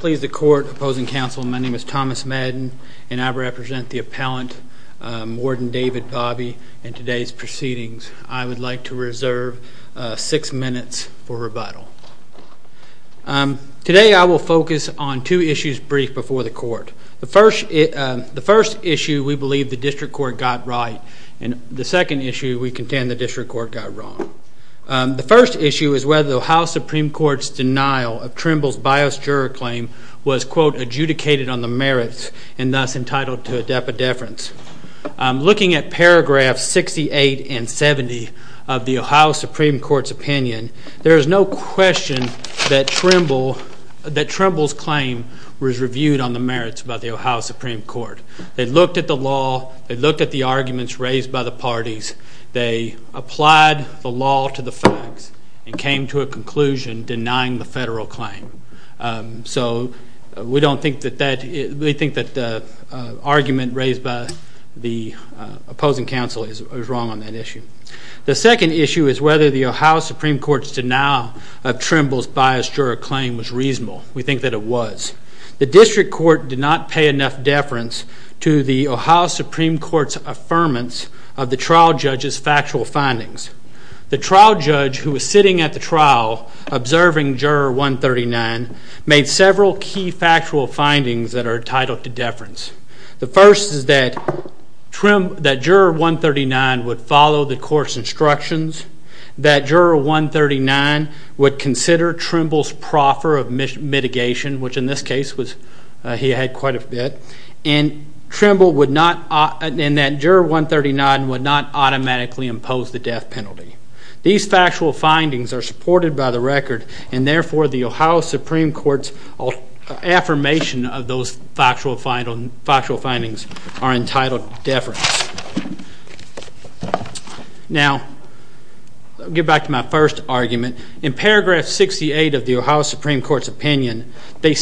Please the court, opposing counsel, my name is Thomas Madden and I represent the appellant warden David Bobby and today's proceedings. I would like to reserve six minutes for rebuttal. Today I will focus on two issues briefed before the court. The first issue we believe the district court got right and the second issue we contend the district court got wrong. The first issue is whether the Ohio Supreme Court's denial of Trimble's bias juror claim was, quote, adjudicated on the merits and thus entitled to a depideference. Looking at paragraphs 68 and 70 of the Ohio Supreme Court's opinion, there is no question that Trimble's claim was reviewed on the merits by the Ohio Supreme Court. They looked at the law, they looked at the arguments raised by the parties, they applied the law to the facts and came to a conclusion denying the federal claim. So we think that the argument raised by the opposing counsel is wrong on that issue. The second issue is whether the Ohio Supreme Court's denial of Trimble's bias juror claim was reasonable. We think that it was. The district court did not pay enough deference to the Ohio Supreme Court's affirmance of the trial judge's factual findings. The trial judge who was sitting at the trial observing Juror 139 made several key factual findings that are entitled to deference. The first is that Juror 139 would follow the court's instructions, that Juror 139 would consider Trimble's proffer of mitigation, which in this case he had quite a bit, and that Juror 139 would not automatically impose the death penalty. These factual findings are supported by the record and therefore the Ohio Supreme Court's affirmation of those factual findings are entitled to deference. Now, I'll get back to my first argument. In paragraph 68 of the Ohio Supreme Court's opinion, they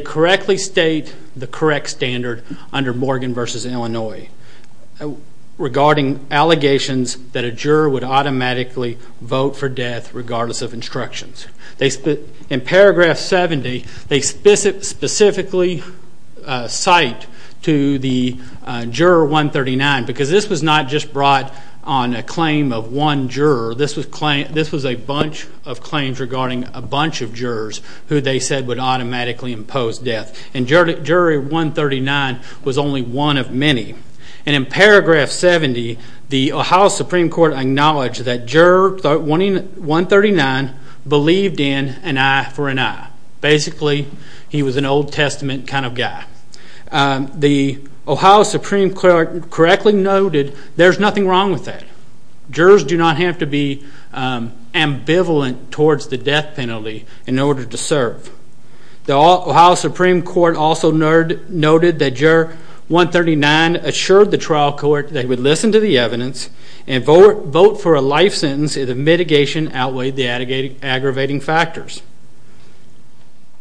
correctly state the correct standard under Morgan v. Illinois regarding allegations that a juror would automatically vote for death regardless of instructions. In paragraph 70, they specifically cite to the Juror 139, because this was not just brought on a claim of one juror, this was a bunch of claims regarding a bunch of jurors who they said would automatically impose death. And Juror 139 was only one of many. And in paragraph 70, the Ohio Supreme Court acknowledged that Juror 139 believed in an eye for an eye. Basically, he was an Old Testament kind of guy. The Ohio Supreme Court correctly noted there's nothing wrong with that. Jurors do not have to be ambivalent towards the death penalty in order to serve. The Ohio Supreme Court also noted that Juror 139 assured the trial court that he would listen to the evidence and vote for a life sentence if the mitigation outweighed the aggravating factors.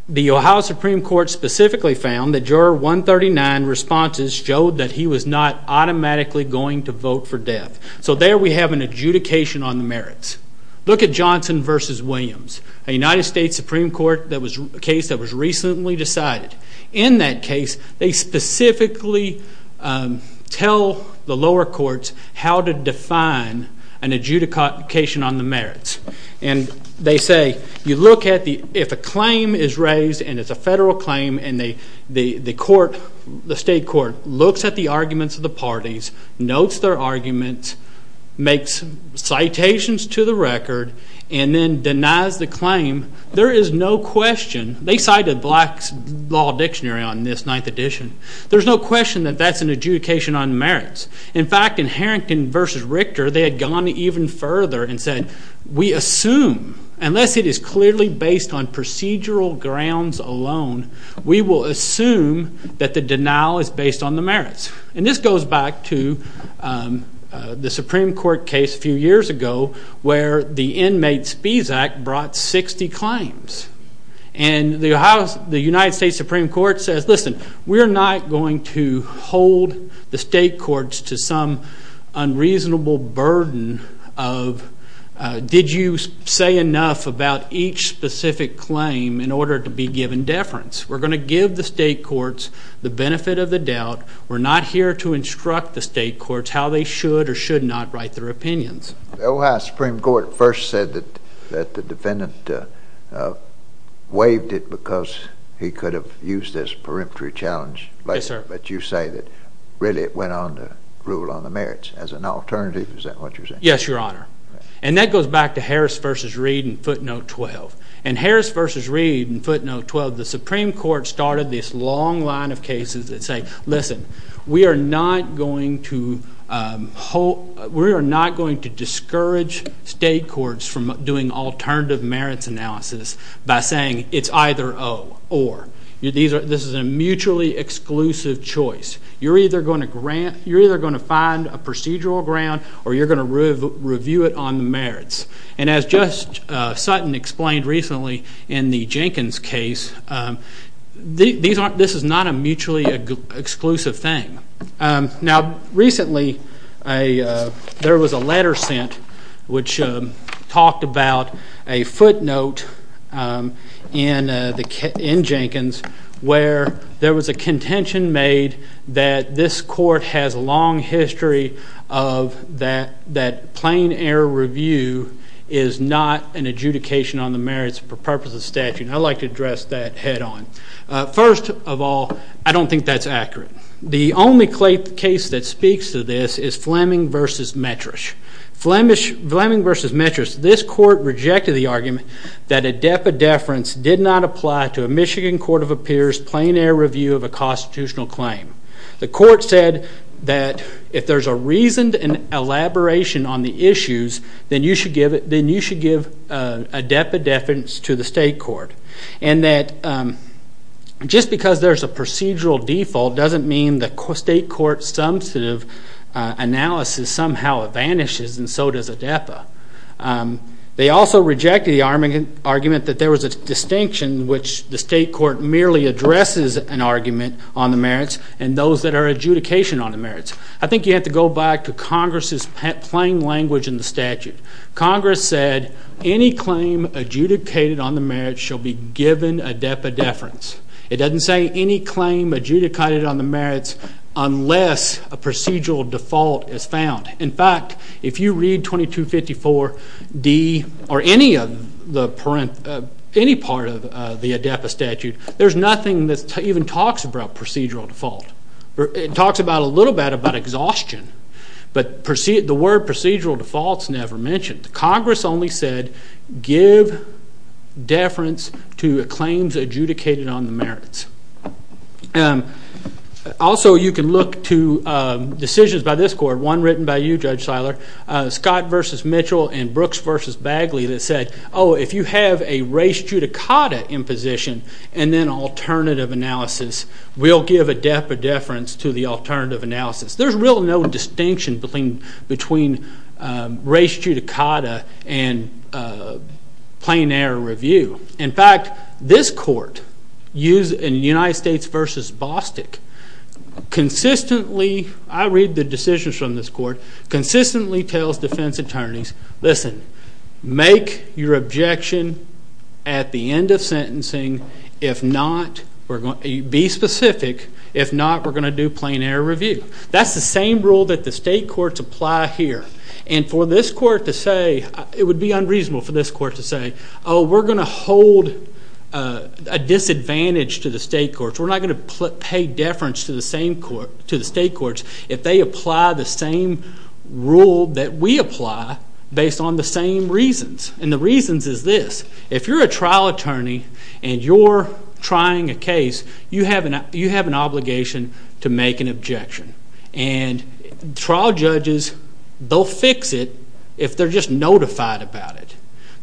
The Ohio Supreme Court specifically found that Juror 139's responses showed that he was not automatically going to vote for death. So there we have an adjudication on the merits. Look at Johnson v. Williams, a United States Supreme Court case that was recently decided. In that case, they specifically tell the lower courts how to define an adjudication on the merits. And they say, if a claim is raised, and it's a federal claim, and the state court looks at the arguments of the parties, notes their arguments, makes citations to the record, and then denies the claim, there is no question. They cited Black's Law Dictionary on this 9th edition. There's no question that that's an adjudication on the merits. In fact, in Harrington v. Richter, they had gone even further and said, we assume, unless it is clearly based on procedural grounds alone, we will assume that the denial is based on the merits. And this goes back to the Supreme Court case a few years ago where the Inmate Spees Act brought 60 claims. And the United States Supreme Court says, listen, we're not going to hold the state courts to some unreasonable burden of, did you say enough about each specific claim in order to be given deference? We're going to give the state courts the benefit of the doubt. We're not here to instruct the state courts how they should or should not write their opinions. The Ohio Supreme Court first said that the defendant waived it because he could have used this peremptory challenge. Yes, sir. But you say that, really, it went on to rule on the merits. As an alternative, is that what you're saying? Yes, Your Honor. And that goes back to Harris v. Reed in footnote 12. And Harris v. Reed in footnote 12, the Supreme Court started this long line of cases that say, listen, we are not going to discourage state courts from doing alternative merits analysis by saying it's either, oh, or. This is a mutually exclusive choice. You're either going to find a procedural ground or you're going to review it on the merits. And as Judge Sutton explained recently in the Jenkins case, this is not a mutually exclusive thing. Now, recently there was a letter sent which talked about a footnote in Jenkins where there was a contention made that this court has a long history of that plain error review is not an adjudication on the merits for purposes of statute. And I'd like to address that head on. First of all, I don't think that's accurate. The only case that speaks to this is Fleming v. Metrish. Fleming v. Metrish, this court rejected the argument that a dependence did not apply to a Michigan Court of Appeals plain error review of a constitutional claim. The court said that if there's a reasoned elaboration on the issues, then you should give a dependence to the state court. And that just because there's a procedural default doesn't mean the state court's substantive analysis somehow vanishes, and so does ADEPA. They also rejected the argument that there was a distinction in which the state court merely addresses an argument on the merits and those that are adjudication on the merits. I think you have to go back to Congress's plain language in the statute. Congress said any claim adjudicated on the merits shall be given ADEPA deference. It doesn't say any claim adjudicated on the merits unless a procedural default is found. In fact, if you read 2254D or any part of the ADEPA statute, there's nothing that even talks about procedural default. It talks a little bit about exhaustion, but the word procedural default's never mentioned. Congress only said give deference to claims adjudicated on the merits. Also, you can look to decisions by this court, one written by you, Judge Seiler, Scott v. Mitchell and Brooks v. Bagley that said, oh, if you have a res judicata imposition and then alternative analysis, we'll give ADEPA deference to the alternative analysis. There's really no distinction between res judicata and plain error review. In fact, this court used in United States v. Bostick consistently, I read the decisions from this court, consistently tells defense attorneys, listen, make your objection at the end of sentencing. If not, be specific. If not, we're going to do plain error review. That's the same rule that the state courts apply here. And for this court to say, it would be unreasonable for this court to say, oh, we're going to hold a disadvantage to the state courts. We're not going to pay deference to the state courts if they apply the same rule that we apply based on the same reasons. And the reasons is this. If you're a trial attorney and you're trying a case, you have an obligation to make an objection. And trial judges, they'll fix it if they're just notified about it.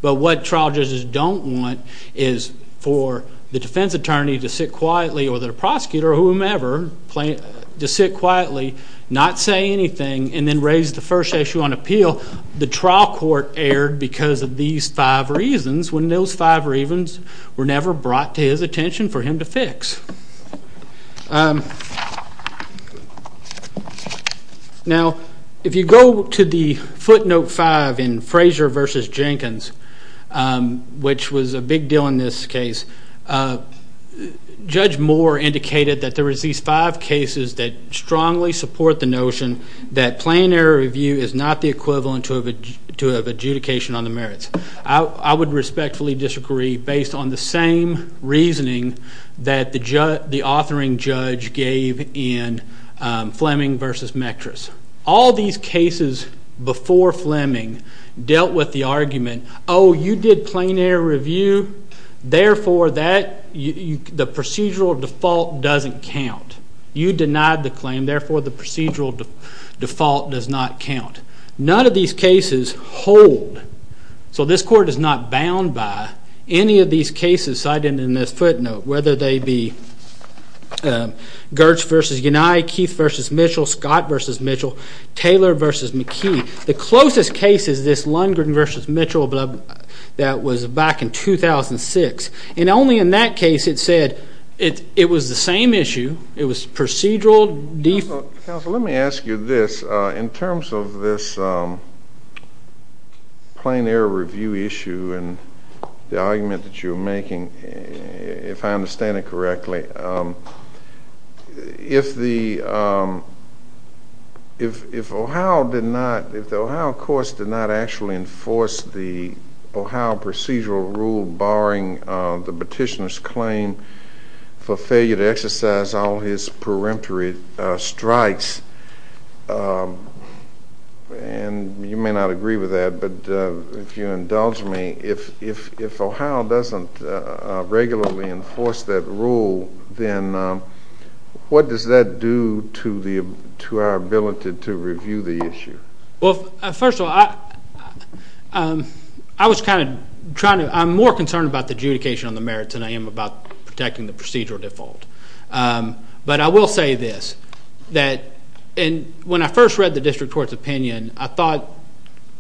But what trial judges don't want is for the defense attorney to sit quietly or the prosecutor or whomever to sit quietly, not say anything, and then raise the first issue on appeal. The trial court erred because of these five reasons when those five reasons were never brought to his attention for him to fix. Now, if you go to the footnote five in Frazier v. Jenkins, which was a big deal in this case, Judge Moore indicated that there was these five cases that strongly support the notion that plain error review is not the equivalent to an adjudication on the merits. I would respectfully disagree based on the same reasoning that the authoring judge gave in Fleming v. Mectris. All these cases before Fleming dealt with the argument, oh, you did plain error review, therefore the procedural default doesn't count. You denied the claim, therefore the procedural default does not count. None of these cases hold. So this court is not bound by any of these cases cited in this footnote, whether they be Gertz v. Unai, Keith v. Mitchell, Scott v. Mitchell, Taylor v. McKee. The closest case is this Lundgren v. Mitchell that was back in 2006. And only in that case it said it was the same issue. It was procedural default. Counsel, let me ask you this. In terms of this plain error review issue and the argument that you're making, if I understand it correctly, if the Ohio courts did not actually enforce the Ohio procedural rule barring the petitioner's claim for failure to exercise all his preemptory strikes, and you may not agree with that, but if you indulge me, if Ohio doesn't regularly enforce that rule, then what does that do to our ability to review the issue? Well, first of all, I'm more concerned about the adjudication on the merits than I am about protecting the procedural default. But I will say this. When I first read the district court's opinion, I thought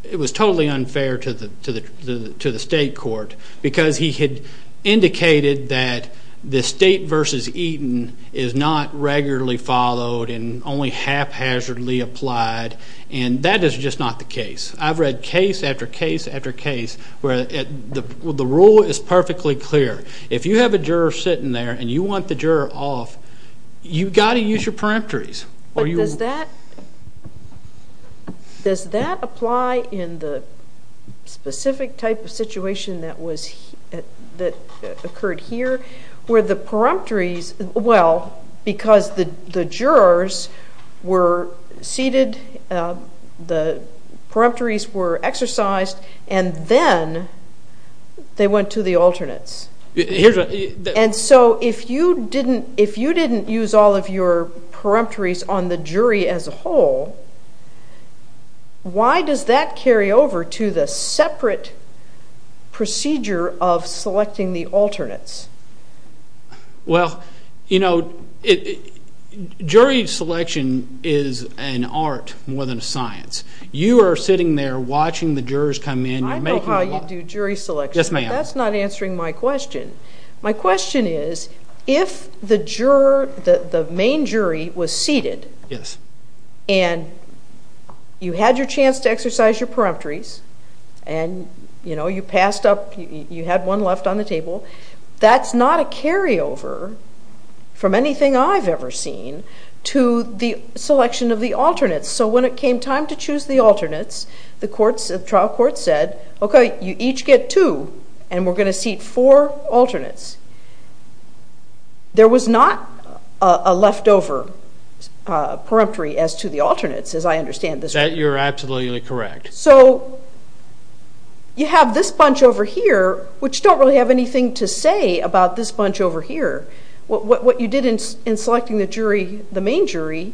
it was totally unfair to the state court because he had indicated that the state v. Eaton is not regularly followed and only haphazardly applied. And that is just not the case. I've read case after case after case where the rule is perfectly clear. If you have a juror sitting there and you want the juror off, you've got to use your preemptories. But does that apply in the specific type of situation that occurred here where the preemptories, well, because the jurors were seated, the preemptories were exercised, and then they went to the alternates? And so if you didn't use all of your preemptories on the jury as a whole, why does that carry over to the separate procedure of selecting the alternates? Well, you know, jury selection is an art more than a science. You are sitting there watching the jurors come in. I know how you do jury selection. Yes, ma'am. But that's not answering my question. My question is, if the main jury was seated and you had your chance to exercise your preemptories and, you know, you passed up, you had one left on the table, that's not a carryover from anything I've ever seen to the selection of the alternates. So when it came time to choose the alternates, the trial court said, okay, you each get two, and we're going to seat four alternates. There was not a leftover preemptory as to the alternates, as I understand this. That you're absolutely correct. So you have this bunch over here, which don't really have anything to say about this bunch over here. What you did in selecting the jury, the main jury,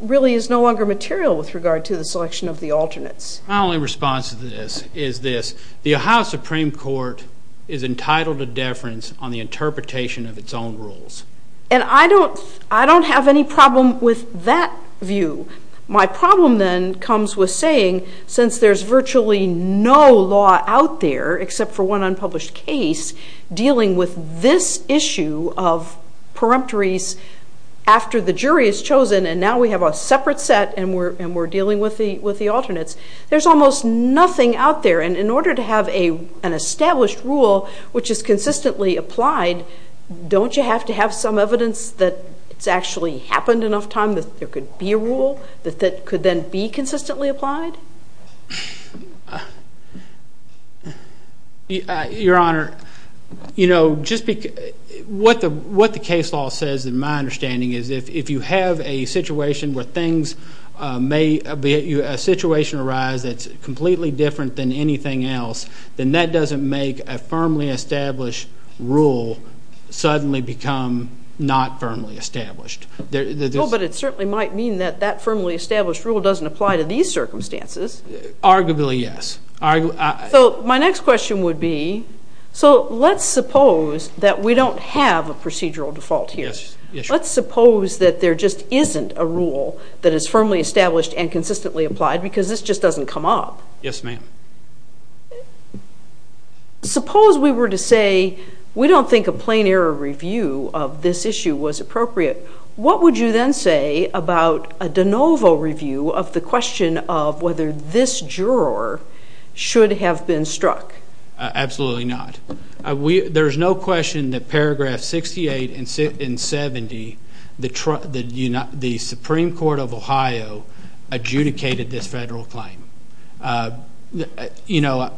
really is no longer material with regard to the selection of the alternates. My only response to this is this. The Ohio Supreme Court is entitled to deference on the interpretation of its own rules. And I don't have any problem with that view. My problem then comes with saying, since there's virtually no law out there, except for one unpublished case, dealing with this issue of preemptories after the jury is chosen and now we have a separate set and we're dealing with the alternates, there's almost nothing out there. And in order to have an established rule which is consistently applied, don't you have to have some evidence that it's actually happened enough times that there could be a rule that could then be consistently applied? Your Honor, what the case law says, in my understanding, is if you have a situation arise that's completely different than anything else, then that doesn't make a firmly established rule suddenly become not firmly established. But it certainly might mean that that firmly established rule doesn't apply to these circumstances. Arguably, yes. So my next question would be, so let's suppose that we don't have a procedural default here. Let's suppose that there just isn't a rule that is firmly established and consistently applied because this just doesn't come up. Yes, ma'am. Suppose we were to say, we don't think a plain error review of this issue was appropriate. What would you then say about a de novo review of the question of whether this juror should have been struck? Absolutely not. There's no question that paragraph 68 and 70, the Supreme Court of Ohio adjudicated this federal claim. You know,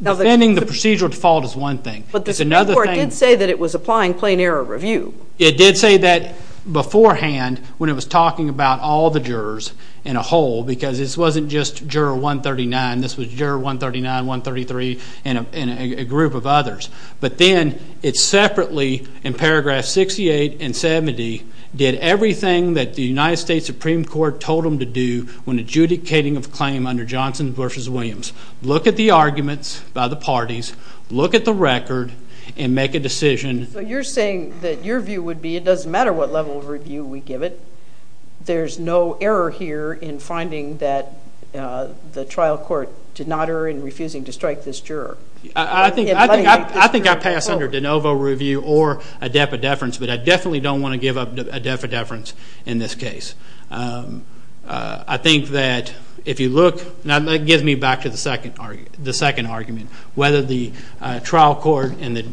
defending the procedural default is one thing. But the Supreme Court did say that it was applying plain error review. It did say that beforehand when it was talking about all the jurors in a whole because this wasn't just juror 139. This was juror 139, 133, and a group of others. But then it separately, in paragraph 68 and 70, did everything that the United States Supreme Court told them to do when adjudicating a claim under Johnson v. Williams. Look at the arguments by the parties. Look at the record and make a decision. So you're saying that your view would be it doesn't matter what level of review we give it. There's no error here in finding that the trial court did not err in refusing to strike this juror. I think I pass under de novo review or a def a deference, but I definitely don't want to give up a def a deference in this case. I think that if you look, and that gives me back to the second argument, whether the trial court and the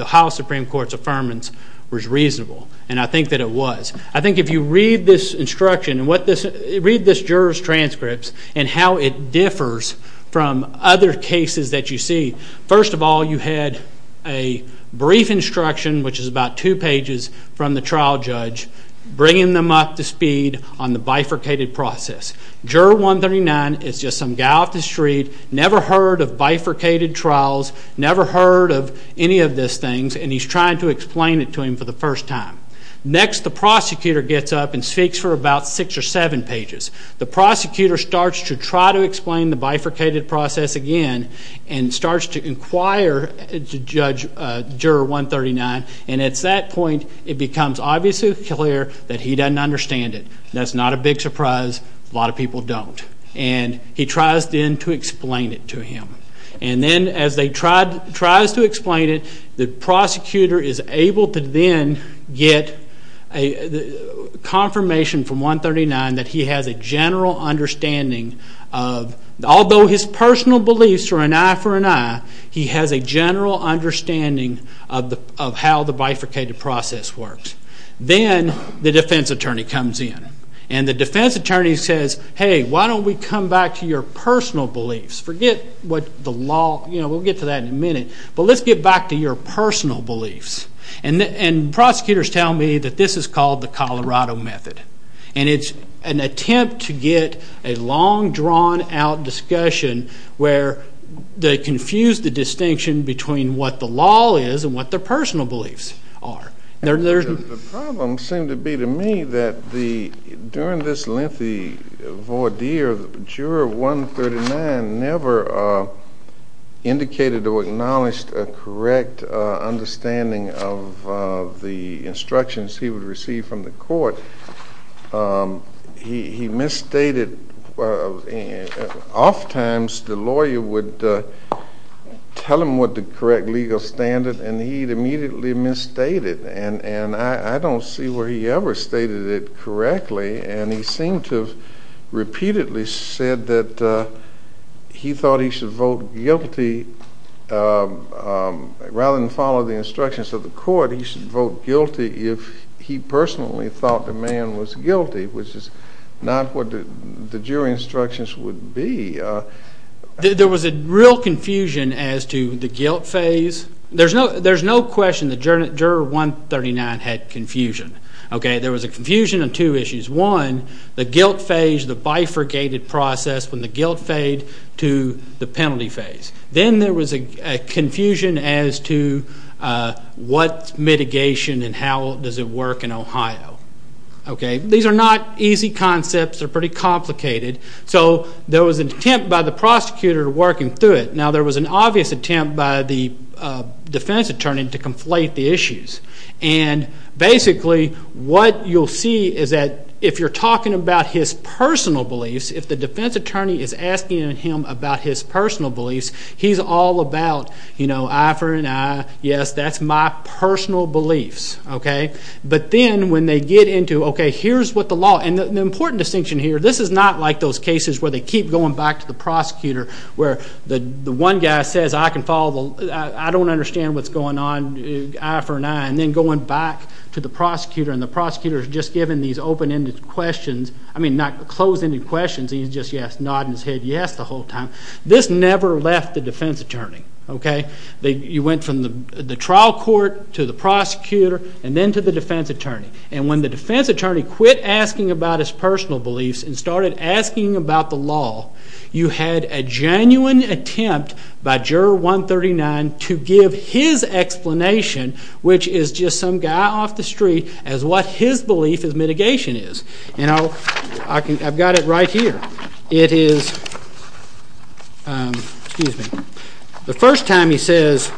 Ohio Supreme Court's affirmance was reasonable, and I think that it was. I think if you read this instruction and read this juror's transcripts and how it differs from other cases that you see, first of all you had a brief instruction, which is about two pages, from the trial judge bringing them up to speed on the bifurcated process. Juror 139 is just some guy off the street, never heard of bifurcated trials, never heard of any of these things, and he's trying to explain it to him for the first time. Next, the prosecutor gets up and speaks for about six or seven pages. The prosecutor starts to try to explain the bifurcated process again and starts to inquire into Juror 139, and at that point it becomes obviously clear that he doesn't understand it. That's not a big surprise. A lot of people don't. And he tries then to explain it to him. And then as he tries to explain it, the prosecutor is able to then get confirmation from 139 that he has a general understanding of, although his personal beliefs are an eye for an eye, he has a general understanding of how the bifurcated process works. Then the defense attorney comes in, and the defense attorney says, Hey, why don't we come back to your personal beliefs? Forget what the law, you know, we'll get to that in a minute, but let's get back to your personal beliefs. And prosecutors tell me that this is called the Colorado Method, and it's an attempt to get a long, drawn-out discussion where they confuse the distinction between what the law is and what their personal beliefs are. The problem seemed to be to me that during this lengthy voir dire, the juror of 139 never indicated or acknowledged a correct understanding of the instructions he would receive from the court. He misstated. Oftentimes the lawyer would tell him what the correct legal standard, and he'd immediately misstated, and I don't see where he ever stated it correctly, and he seemed to have repeatedly said that he thought he should vote guilty. Rather than follow the instructions of the court, he should vote guilty if he personally thought the man was guilty, which is not what the jury instructions would be. There was a real confusion as to the guilt phase. There's no question the juror of 139 had confusion. Okay, there was a confusion on two issues. One, the guilt phase, the bifurcated process when the guilt fade to the penalty phase. Then there was a confusion as to what mitigation and how does it work in Ohio. These are not easy concepts. They're pretty complicated. So there was an attempt by the prosecutor to work him through it. Now there was an obvious attempt by the defense attorney to conflate the issues. And basically what you'll see is that if you're talking about his personal beliefs, if the defense attorney is asking him about his personal beliefs, he's all about, you know, Ivor and I, yes, that's my personal beliefs. But then when they get into, okay, here's what the law, and the important distinction here, this is not like those cases where they keep going back to the prosecutor, where the one guy says, I don't understand what's going on, Ivor and I, and then going back to the prosecutor and the prosecutor is just giving these open-ended questions. I mean, not closed-ended questions. He's just nodding his head yes the whole time. This never left the defense attorney. You went from the trial court to the prosecutor and then to the defense attorney. And when the defense attorney quit asking about his personal beliefs and started asking about the law, you had a genuine attempt by Juror 139 to give his explanation, which is just some guy off the street, as what his belief in mitigation is. And I've got it right here. It is, excuse me, the first time he says,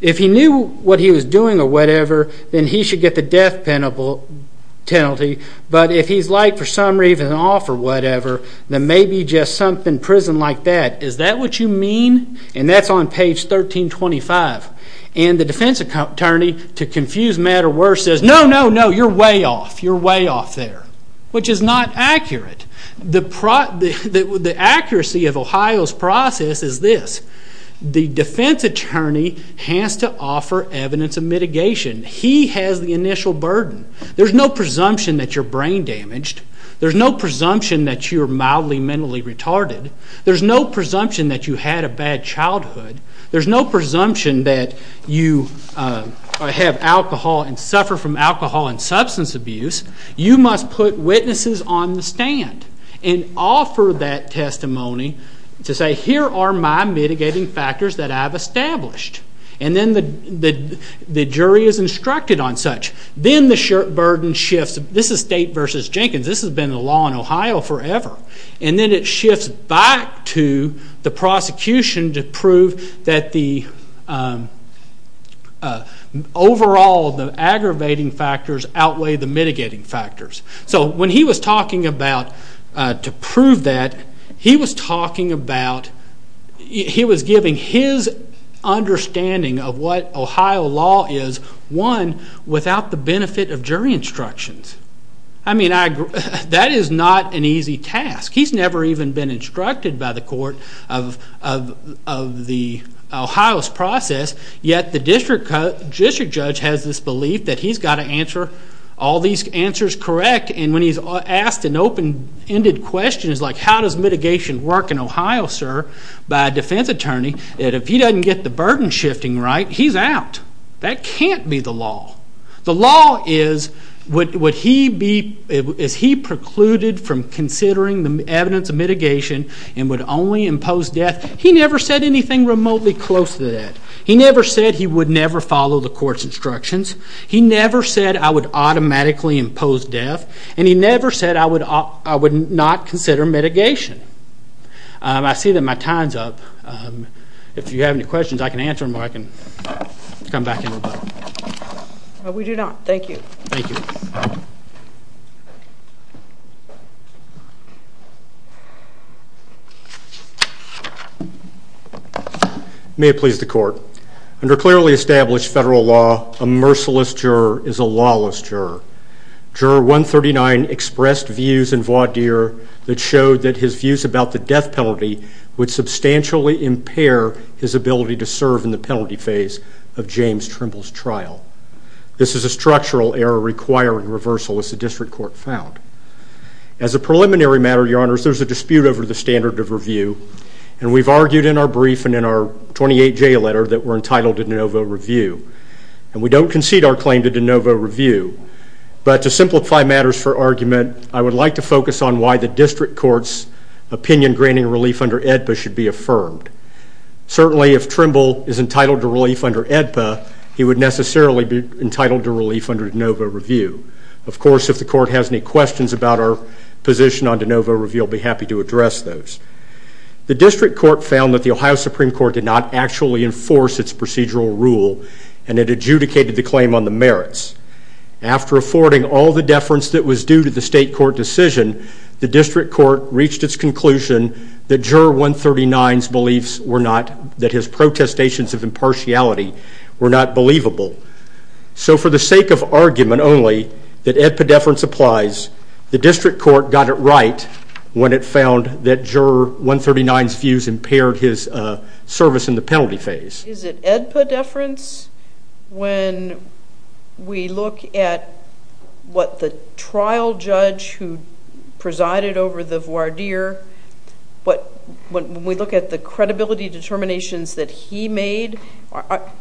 if he knew what he was doing or whatever, then he should get the death penalty, but if he's like for some reason off or whatever, then maybe just something prison like that. Is that what you mean? And that's on page 1325. And the defense attorney, to confuse matter worse, says, no, no, no, you're way off. You're way off there, which is not accurate. The accuracy of Ohio's process is this. The defense attorney has to offer evidence of mitigation. He has the initial burden. There's no presumption that you're brain damaged. There's no presumption that you're mildly mentally retarded. There's no presumption that you had a bad childhood. There's no presumption that you have alcohol and suffer from alcohol and substance abuse. You must put witnesses on the stand and offer that testimony to say, here are my mitigating factors that I've established. And then the jury is instructed on such. Then the burden shifts. This is State v. Jenkins. This has been the law in Ohio forever. And then it shifts back to the prosecution to prove that the overall aggravating factors outweigh the mitigating factors. So when he was talking about, to prove that, he was talking about, he was giving his understanding of what Ohio law is, one, without the benefit of jury instructions. I mean, that is not an easy task. He's never even been instructed by the court of Ohio's process, yet the district judge has this belief that he's got to answer all these answers correct. And when he's asked an open-ended question, like, how does mitigation work in Ohio, sir, by a defense attorney, if he doesn't get the burden shifting right, he's out. That can't be the law. The law is, would he be, is he precluded from considering the evidence of mitigation and would only impose death? He never said anything remotely close to that. He never said he would never follow the court's instructions. He never said, I would automatically impose death. And he never said, I would not consider mitigation. I see that my time's up. If you have any questions, I can answer them or I can come back in a little bit. We do not. Thank you. Thank you. May it please the court. Under clearly established federal law, a merciless juror is a lawless juror. Juror 139 expressed views in voir dire that showed that his views about the death penalty would substantially impair his ability to serve in the penalty phase of James Trimble's trial. This is a structural error requiring reversal, as the district court found. As a preliminary matter, your honors, there's a dispute over the standard of review. And we've argued in our brief and in our 28-J letter that we're entitled to de novo review. And we don't concede our claim to de novo review. But to simplify matters for argument, I would like to focus on why the district court's opinion granting relief under AEDPA should be affirmed. Certainly, if Trimble is entitled to relief under AEDPA, he would necessarily be entitled to relief under de novo review. Of course, if the court has any questions about our position on de novo review, I'll be happy to address those. The district court found that the Ohio Supreme Court did not actually enforce its procedural rule and it adjudicated the claim on the merits. After affording all the deference that was due to the state court decision, the district court reached its conclusion that juror 139's beliefs were not, that his protestations of impartiality were not believable. So for the sake of argument only, that AEDPA deference applies, the district court got it right when it found that juror 139's views impaired his service in the penalty phase. Is it AEDPA deference when we look at what the trial judge who presided over the voir dire, when we look at the credibility determinations that he made,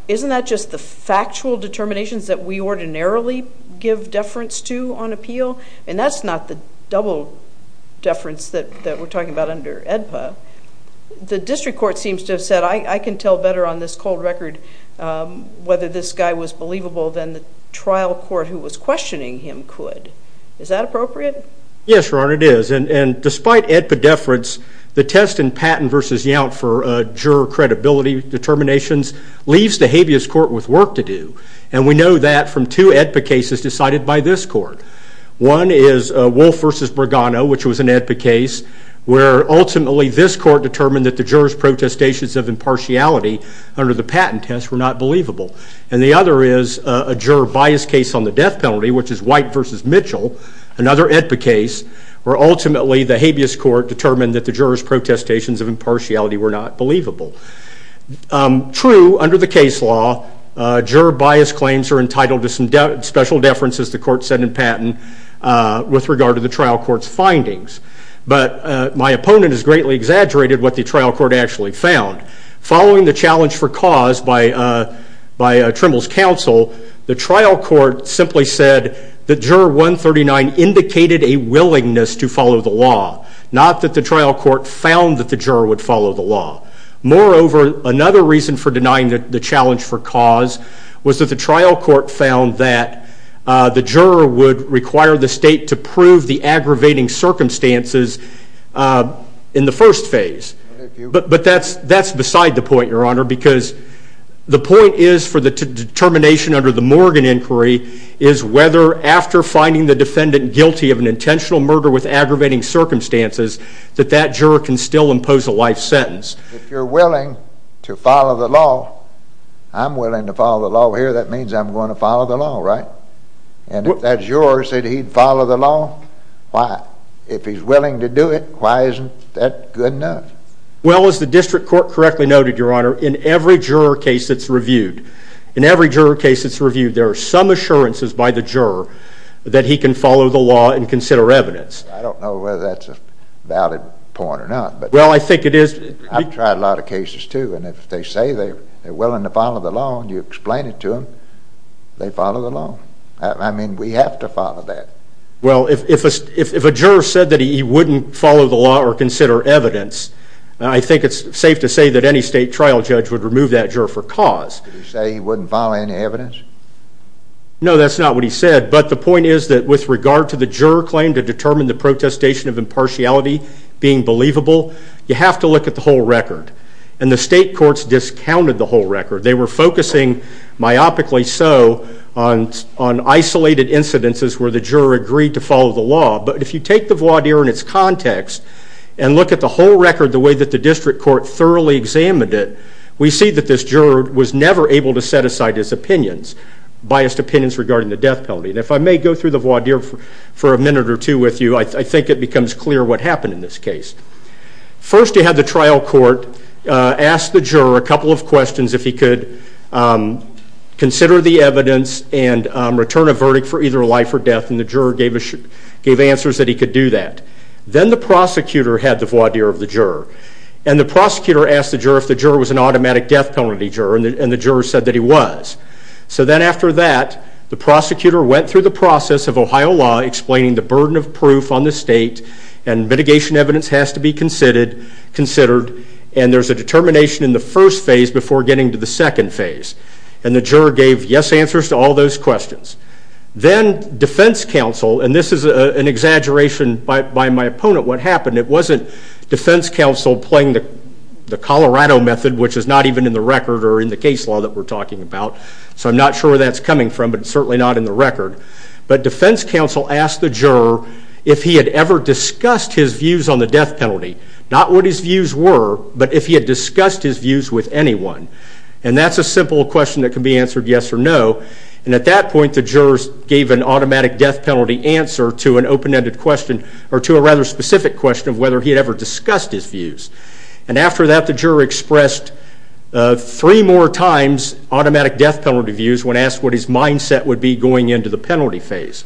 isn't that just the factual determinations that we ordinarily give deference to on appeal? And that's not the double deference that we're talking about under AEDPA. The district court seems to have said, I can tell better on this cold record whether this guy was believable than the trial court who was questioning him could. Is that appropriate? Yes, Your Honor, it is. And despite AEDPA deference, the test in Patton v. Yount for juror credibility determinations leaves the habeas court with work to do. And we know that from two AEDPA cases decided by this court. One is Wolfe v. Brigano, which was an AEDPA case, where ultimately this court determined that the jurors' protestations of impartiality under the Patton test were not believable. And the other is a juror bias case on the death penalty, which is White v. Mitchell, another AEDPA case, where ultimately the habeas court determined that the jurors' protestations of impartiality were not believable. True, under the case law, juror bias claims are entitled to some special deference, as the court said in Patton, with regard to the trial court's findings. But my opponent has greatly exaggerated what the trial court actually found. Following the challenge for cause by Trimble's counsel, the trial court simply said that juror 139 indicated a willingness to follow the law, not that the trial court found that the juror would follow the law. Moreover, another reason for denying the challenge for cause was that the trial court found that the juror would require the state to prove the aggravating circumstances in the first phase. But that's beside the point, Your Honor, because the point is for the determination under the Morgan inquiry is whether, after finding the defendant guilty of an intentional murder with aggravating circumstances, that that juror can still impose a life sentence. If you're willing to follow the law, I'm willing to follow the law here. That means I'm going to follow the law, right? And if that juror said he'd follow the law, why? If he's willing to do it, why isn't that good enough? Well, as the district court correctly noted, Your Honor, in every juror case that's reviewed, there are some assurances by the juror that he can follow the law and consider evidence. I don't know whether that's a valid point or not. Well, I think it is. I've tried a lot of cases too, and if they say they're willing to follow the law and you explain it to them, they follow the law. I mean, we have to follow that. Well, if a juror said that he wouldn't follow the law or consider evidence, I think it's safe to say that any state trial judge would remove that juror for cause. Did he say he wouldn't follow any evidence? No, that's not what he said. But the point is that with regard to the juror claim to determine the protestation of impartiality being believable, you have to look at the whole record. And the state courts discounted the whole record. They were focusing myopically so on isolated incidences where the juror agreed to follow the law. But if you take the voir dire in its context and look at the whole record the way that the district court thoroughly examined it, we see that this juror was never able to set aside his opinions, biased opinions regarding the death penalty. And if I may go through the voir dire for a minute or two with you, I think it becomes clear what happened in this case. First you had the trial court ask the juror a couple of questions if he could consider the evidence and return a verdict for either life or death, and the juror gave answers that he could do that. Then the prosecutor had the voir dire of the juror, and the prosecutor asked the juror if the juror was an automatic death penalty juror, and the juror said that he was. So then after that, the prosecutor went through the process of Ohio law explaining the burden of proof on the state, and mitigation evidence has to be considered, and there's a determination in the first phase before getting to the second phase. And the juror gave yes answers to all those questions. Then defense counsel, and this is an exaggeration by my opponent what happened, it wasn't defense counsel playing the Colorado method, which is not even in the record or in the case law that we're talking about, so I'm not sure where that's coming from, but it's certainly not in the record. But defense counsel asked the juror if he had ever discussed his views on the death penalty, not what his views were, but if he had discussed his views with anyone. And that's a simple question that can be answered yes or no, and at that point the jurors gave an automatic death penalty answer to an open-ended question, or to a rather specific question of whether he had ever discussed his views. And after that the juror expressed three more times automatic death penalty views when asked what his mindset would be going into the penalty phase.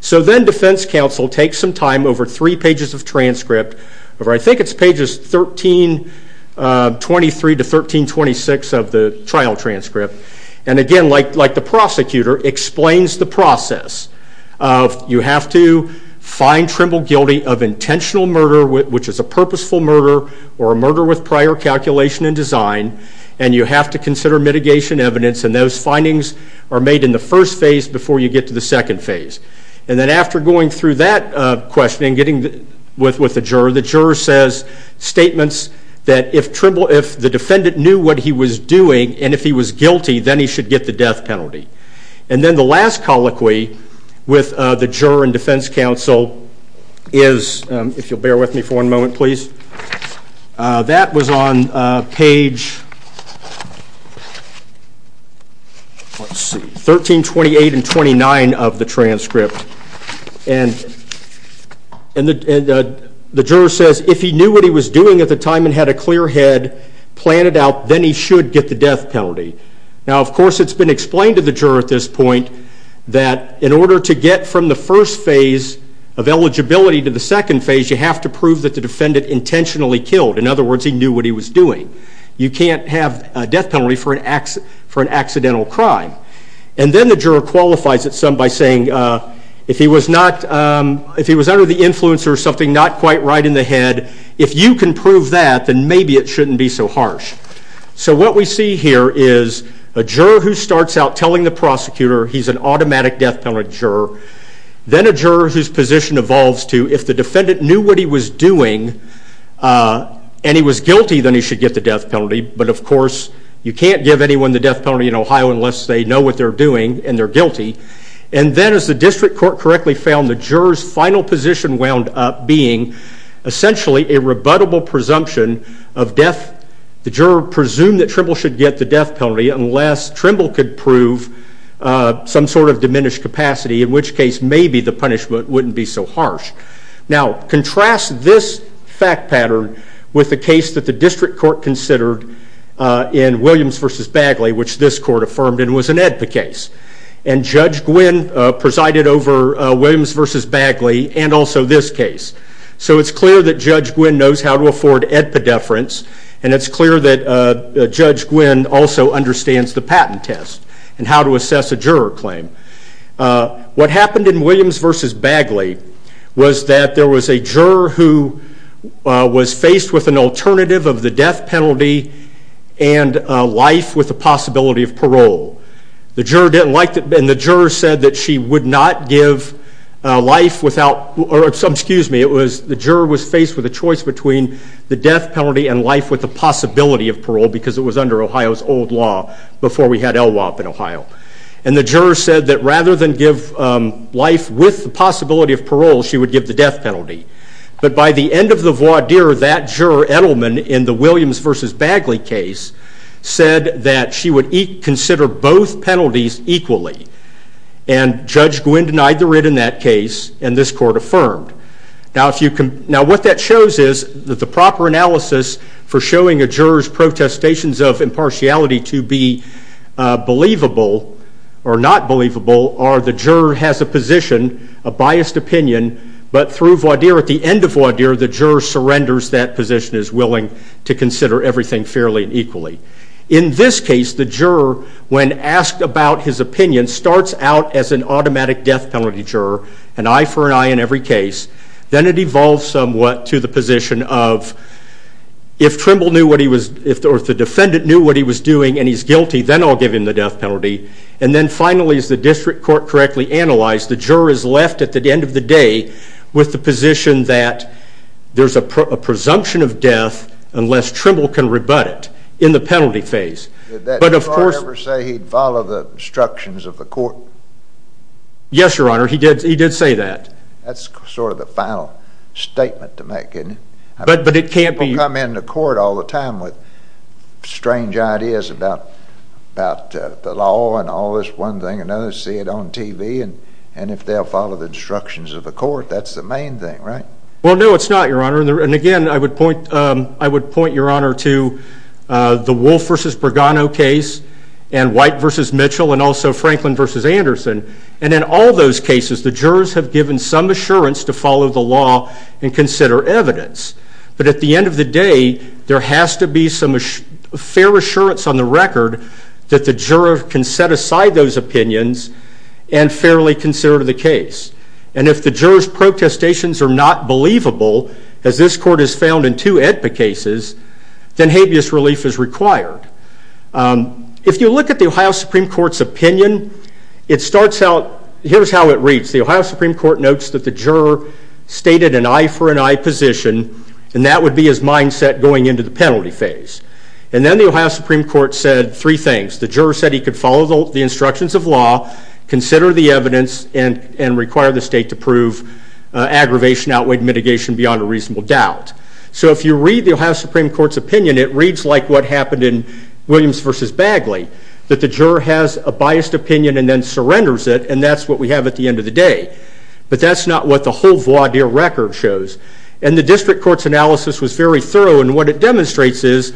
So then defense counsel takes some time over three pages of transcript, or I think it's pages 1323 to 1326 of the trial transcript, and again, like the prosecutor, explains the process. You have to find Trimble guilty of intentional murder, which is a purposeful murder, or a murder with prior calculation and design, and you have to consider mitigation evidence, and those findings are made in the first phase before you get to the second phase. And then after going through that question and getting with the juror, the juror says statements that if the defendant knew what he was doing and if he was guilty, then he should get the death penalty. And then the last colloquy with the juror and defense counsel is, if you'll bear with me for a moment please, that was on page 1328 and 1329 of the transcript. And the juror says if he knew what he was doing at the time and had a clear head, plan it out, then he should get the death penalty. Now, of course, it's been explained to the juror at this point that in order to get from the first phase of eligibility to the second phase, you have to prove that the defendant intentionally killed. In other words, he knew what he was doing. You can't have a death penalty for an accidental crime. And then the juror qualifies it some by saying, if he was under the influence or something not quite right in the head, if you can prove that, then maybe it shouldn't be so harsh. So what we see here is a juror who starts out telling the prosecutor he's an automatic death penalty juror. Then a juror whose position evolves to if the defendant knew what he was doing and he was guilty, then he should get the death penalty. But, of course, you can't give anyone the death penalty in Ohio unless they know what they're doing and they're guilty. And then as the district court correctly found, the juror's final position wound up being essentially a rebuttable presumption of death. The juror presumed that Trimble should get the death penalty unless Trimble could prove some sort of diminished capacity, in which case maybe the punishment wouldn't be so harsh. Now, contrast this fact pattern with the case that the district court considered in Williams v. Bagley, which this court affirmed was an AEDPA case. And Judge Gwynn presided over Williams v. Bagley and also this case. So it's clear that Judge Gwynn knows how to afford AEDPA deference and it's clear that Judge Gwynn also understands the patent test and how to assess a juror claim. What happened in Williams v. Bagley was that there was a juror who was faced with an alternative of the death penalty and life with the possibility of parole. And the juror said that she would not give life without, or excuse me, the juror was faced with a choice between the death penalty and life with the possibility of parole because it was under Ohio's old law before we had LWOP in Ohio. And the juror said that rather than give life with the possibility of parole, she would give the death penalty. But by the end of the voir dire, that juror, Edelman, in the Williams v. Bagley case, said that she would consider both penalties equally. And Judge Gwynn denied the writ in that case and this court affirmed. Now what that shows is that the proper analysis for showing a juror's protestations of impartiality to be believable or not believable are the juror has a position, a biased opinion, but through voir dire, at the end of voir dire, the juror surrenders that position as willing to consider everything fairly and equally. In this case, the juror, when asked about his opinion, starts out as an automatic death penalty juror an eye for an eye in every case. Then it evolves somewhat to the position of if Trimble knew what he was, or if the defendant knew what he was doing and he's guilty, then I'll give him the death penalty. And then finally, as the district court correctly analyzed, the juror is left at the end of the day with the position that there's a presumption of death unless Trimble can rebut it in the penalty phase. Did that juror ever say he'd follow the instructions of the court? Yes, Your Honor, he did say that. That's sort of the final statement to make, isn't it? But it can't be... People come in to court all the time with strange ideas about the law and all this one thing and others see it on TV and if they'll follow the instructions of the court, that's the main thing, right? Well, no, it's not, Your Honor. And again, I would point, Your Honor, to the Wolfe v. Bregano case and White v. Mitchell and also Franklin v. Anderson and in all those cases, the jurors have given some assurance to follow the law and consider evidence. But at the end of the day, there has to be some fair assurance on the record that the juror can set aside those opinions and fairly consider the case. And if the jurors' protestations are not believable, as this court has found in two AEDPA cases, then habeas relief is required. If you look at the Ohio Supreme Court's opinion, it starts out... Here's how it reads. The Ohio Supreme Court notes that the juror stated an eye-for-an-eye position and that would be his mindset going into the penalty phase. And then the Ohio Supreme Court said three things. The juror said he could follow the instructions of law, consider the evidence, and require the state to prove aggravation outweighed mitigation beyond a reasonable doubt. So if you read the Ohio Supreme Court's opinion, it reads like what happened in Williams v. Bagley, that the juror has a biased opinion and then surrenders it, and that's what we have at the end of the day. But that's not what the whole voir dire record shows. And the district court's analysis was very thorough, and what it demonstrates is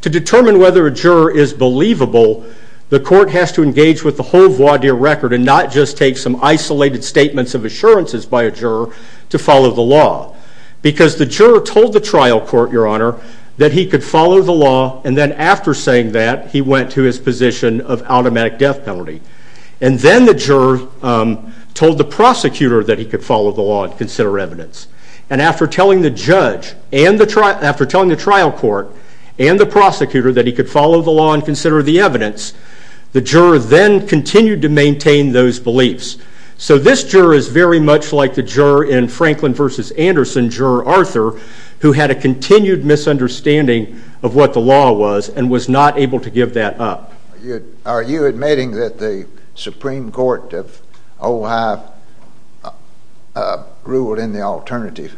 to determine whether a juror is believable, the court has to engage with the whole voir dire record and not just take some isolated statements of assurances by a juror to follow the law. Because the juror told the trial court, Your Honor, that he could follow the law, and then after saying that, he went to his position of automatic death penalty. And then the juror told the prosecutor that he could follow the law and consider evidence. And after telling the judge and the trial court and the prosecutor that he could follow the law and consider the evidence, the juror then continued to maintain those beliefs. So this juror is very much like the juror in Franklin v. Anderson, Juror Arthur, who had a continued misunderstanding of what the law was and was not able to give that up. Are you admitting that the Supreme Court of Ojai ruled in the alternative?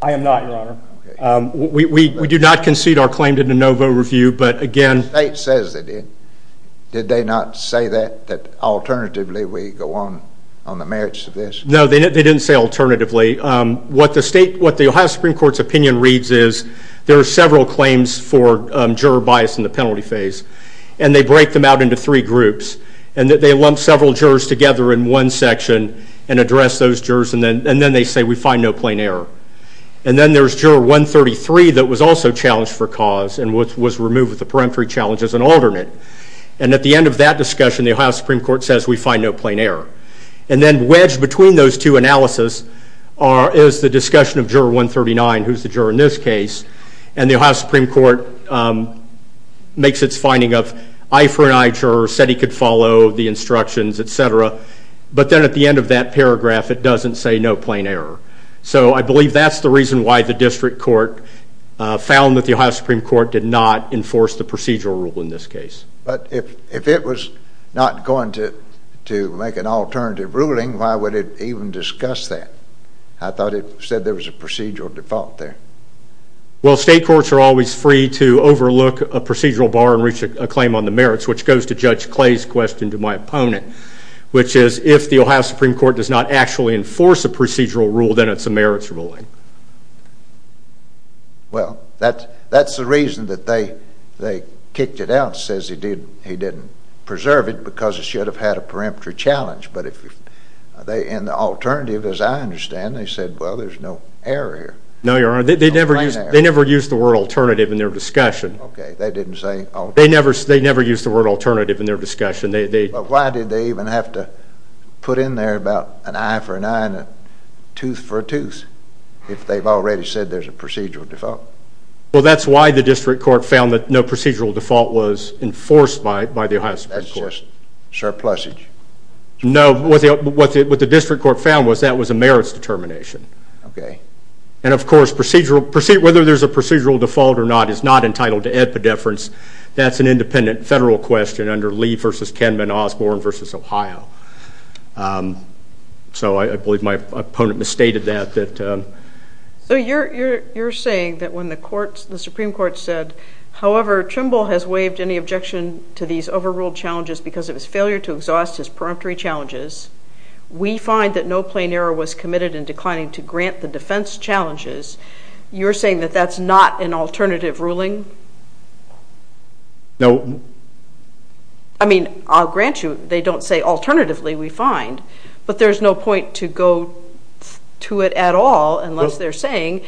I am not, Your Honor. We do not concede our claim to de novo review, but again... The state says they did. Did they not say that, that alternatively we go on the merits of this? No, they didn't say alternatively. What the Ohio Supreme Court's opinion reads is there are several claims for juror bias in the penalty phase, and they break them out into three groups, and they lump several jurors together in one section and address those jurors, and then they say, we find no plain error. And then there's Juror 133 that was also challenged for cause and was removed with a peremptory challenge as an alternate. And at the end of that discussion, the Ohio Supreme Court says, we find no plain error. And then wedged between those two analysis is the discussion of Juror 139, who's the juror in this case, and the Ohio Supreme Court makes its finding of I for an I juror said he could follow the instructions, et cetera. But then at the end of that paragraph, it doesn't say no plain error. So I believe that's the reason why the district court found that the Ohio Supreme Court did not enforce the procedural rule in this case. But if it was not going to make an alternative ruling, why would it even discuss that? I thought it said there was a procedural default there. Well, state courts are always free to overlook a procedural bar and reach a claim on the merits, which goes to Judge Clay's question to my opponent, which is if the Ohio Supreme Court does not actually enforce a procedural rule, then it's a merits ruling. Well, that's the reason that they kicked it out because the judge says he didn't preserve it because it should have had a peremptory challenge. But in the alternative, as I understand, they said, well, there's no error here. No, Your Honor. They never used the word alternative in their discussion. Okay, they didn't say alternative. They never used the word alternative in their discussion. Why did they even have to put in there about an I for an I and a tooth for a tooth if they've already said there's a procedural default? Well, that's why the district court found that no procedural default was enforced by the Ohio Supreme Court. That's just surplusage. No, what the district court found was that was a merits determination. Okay. And of course, whether there's a procedural default or not is not entitled to epidefference. That's an independent federal question under Lee v. Kenman, Osborne v. Ohio. So I believe my opponent misstated that. So you're saying that when the Supreme Court said, however, Trimble has waived any objection to these overruled challenges because of his failure to exhaust his preemptory challenges, we find that no plain error was committed in declining to grant the defense challenges, you're saying that that's not an alternative ruling? No. I mean, I'll grant you they don't say alternatively, we find, but there's no point to go to it at all unless they're saying,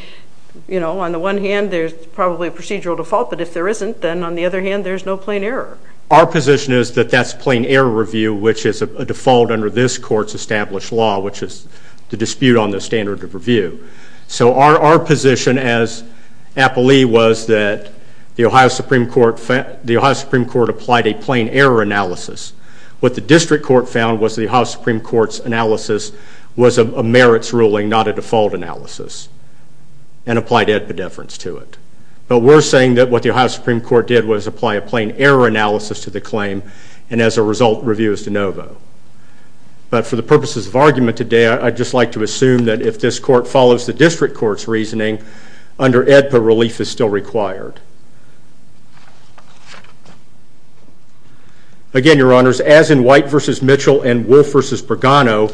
you know, on the one hand, there's probably a procedural default, but if there isn't, then on the other hand, there's no plain error. Our position is that that's plain error review, which is a default under this court's established law, which is the dispute on the standard of review. So our position as Appley was that the Ohio Supreme Court applied a plain error analysis. What the district court found was the Ohio Supreme Court's analysis was a merits ruling, not a default analysis, and applied epidefference to it. But we're saying that what the Ohio Supreme Court did was apply a plain error analysis to the claim, and as a result, review is de novo. But for the purposes of argument today, I'd just like to assume that if this court follows the district court's reasoning, under AEDPA, relief is still required. Again, Your Honors, as in White v. Mitchell and Wolf v. Bergano,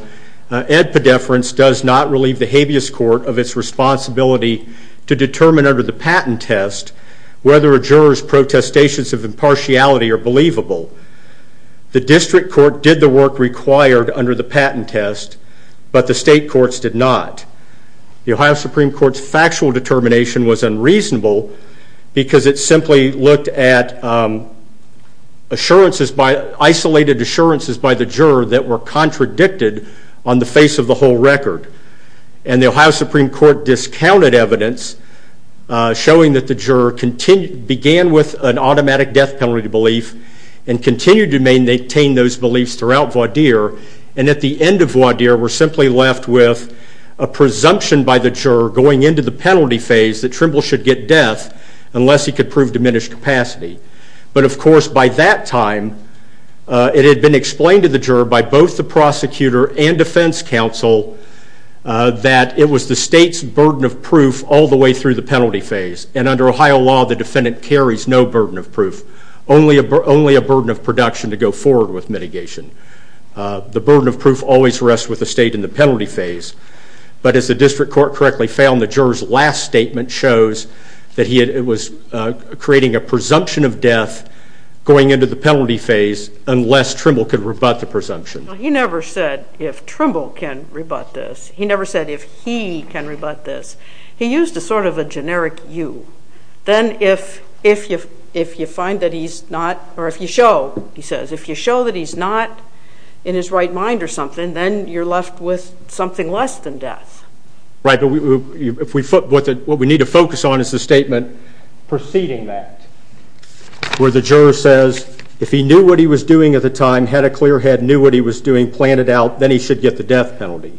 epidefference does not relieve the habeas court of its responsibility to determine under the patent test whether a juror's protestations of impartiality are believable. The district court did the work required under the patent test, but the state courts did not. The Ohio Supreme Court's factual determination was unreasonable because it simply looked at isolated assurances by the juror that were contradicted on the face of the whole record. And the Ohio Supreme Court discounted evidence showing that the juror began with an automatic death penalty belief and continued to maintain those beliefs throughout voir dire, and at the end of voir dire were simply left with a presumption by the juror going into the penalty phase that Trimble should get death unless he could prove diminished capacity. But of course, by that time, it had been explained to the juror by both the prosecutor and defense counsel that it was the state's burden of proof all the way through the penalty phase. And under Ohio law, the defendant carries no burden of proof, only a burden of production to go forward with mitigation. The burden of proof always rests with the state in the penalty phase. But as the district court correctly found, the juror's last statement shows that he was creating a presumption of death going into the penalty phase unless Trimble could rebut the presumption. He never said if Trimble can rebut this. He never said if he can rebut this. He used a sort of a generic you. Then if you find that he's not, or if you show, he says, if you show that he's not in his right mind or something, then you're left with something less than death. Right, but what we need to focus on is the statement preceding that, where the juror says if he knew what he was doing at the time, had a clear head, knew what he was doing, planned it out, then he should get the death penalty,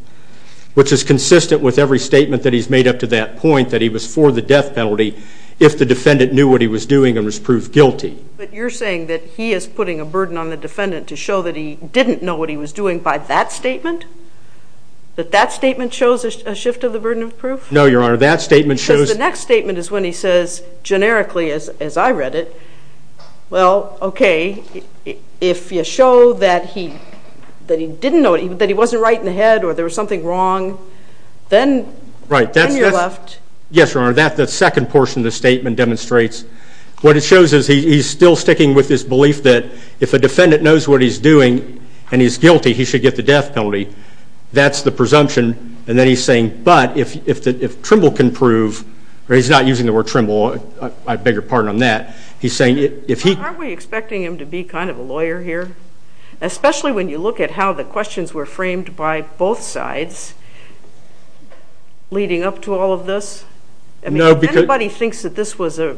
which is consistent with every statement that he's made up to that point, that he was for the death penalty if the defendant knew what he was doing and was proved guilty. But you're saying that he is putting a burden on the defendant to show that he didn't know what he was doing by that statement? That that statement shows a shift of the burden of proof? No, Your Honor, that statement shows... Because the next statement is when he says, generically, as I read it, well, okay, if you show that he didn't know, that he wasn't right in the head or there was something wrong, then you're left... Yes, Your Honor, that second portion of the statement demonstrates what it shows is he's still sticking with his belief that if a defendant knows what he's doing and he's guilty, he should get the death penalty. That's the presumption, and then he's saying, but if Trimble can prove... He's not using the word Trimble, I beg your pardon on that. Aren't we expecting him to be kind of a lawyer here? Especially when you look at how the questions were framed by both sides leading up to all of this? Anybody thinks that this was a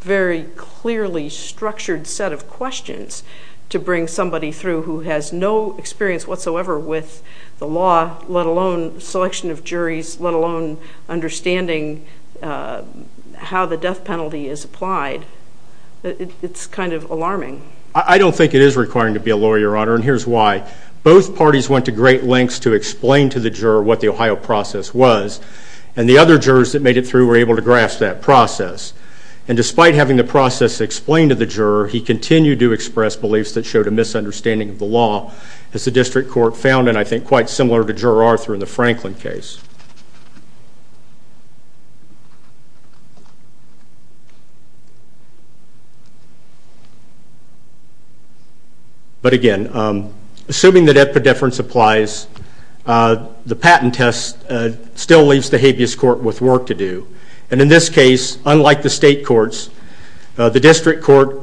very clearly structured set of questions to bring somebody through who has no experience whatsoever with the law, let alone selection of juries, let alone understanding how the death penalty is applied. It's kind of alarming. I don't think it is requiring to be a lawyer, Your Honor, and here's why. Both parties went to great lengths to explain to the juror what the Ohio process was, and the other jurors that made it through were able to grasp that process. And despite having the process explained to the juror, he continued to express beliefs that showed a misunderstanding of the law, as the district court found, and I think quite similar to Juror Arthur in the Franklin case. But again, assuming that epidefference applies, the patent test still leaves the habeas court with work to do. And in this case, unlike the state courts, the district court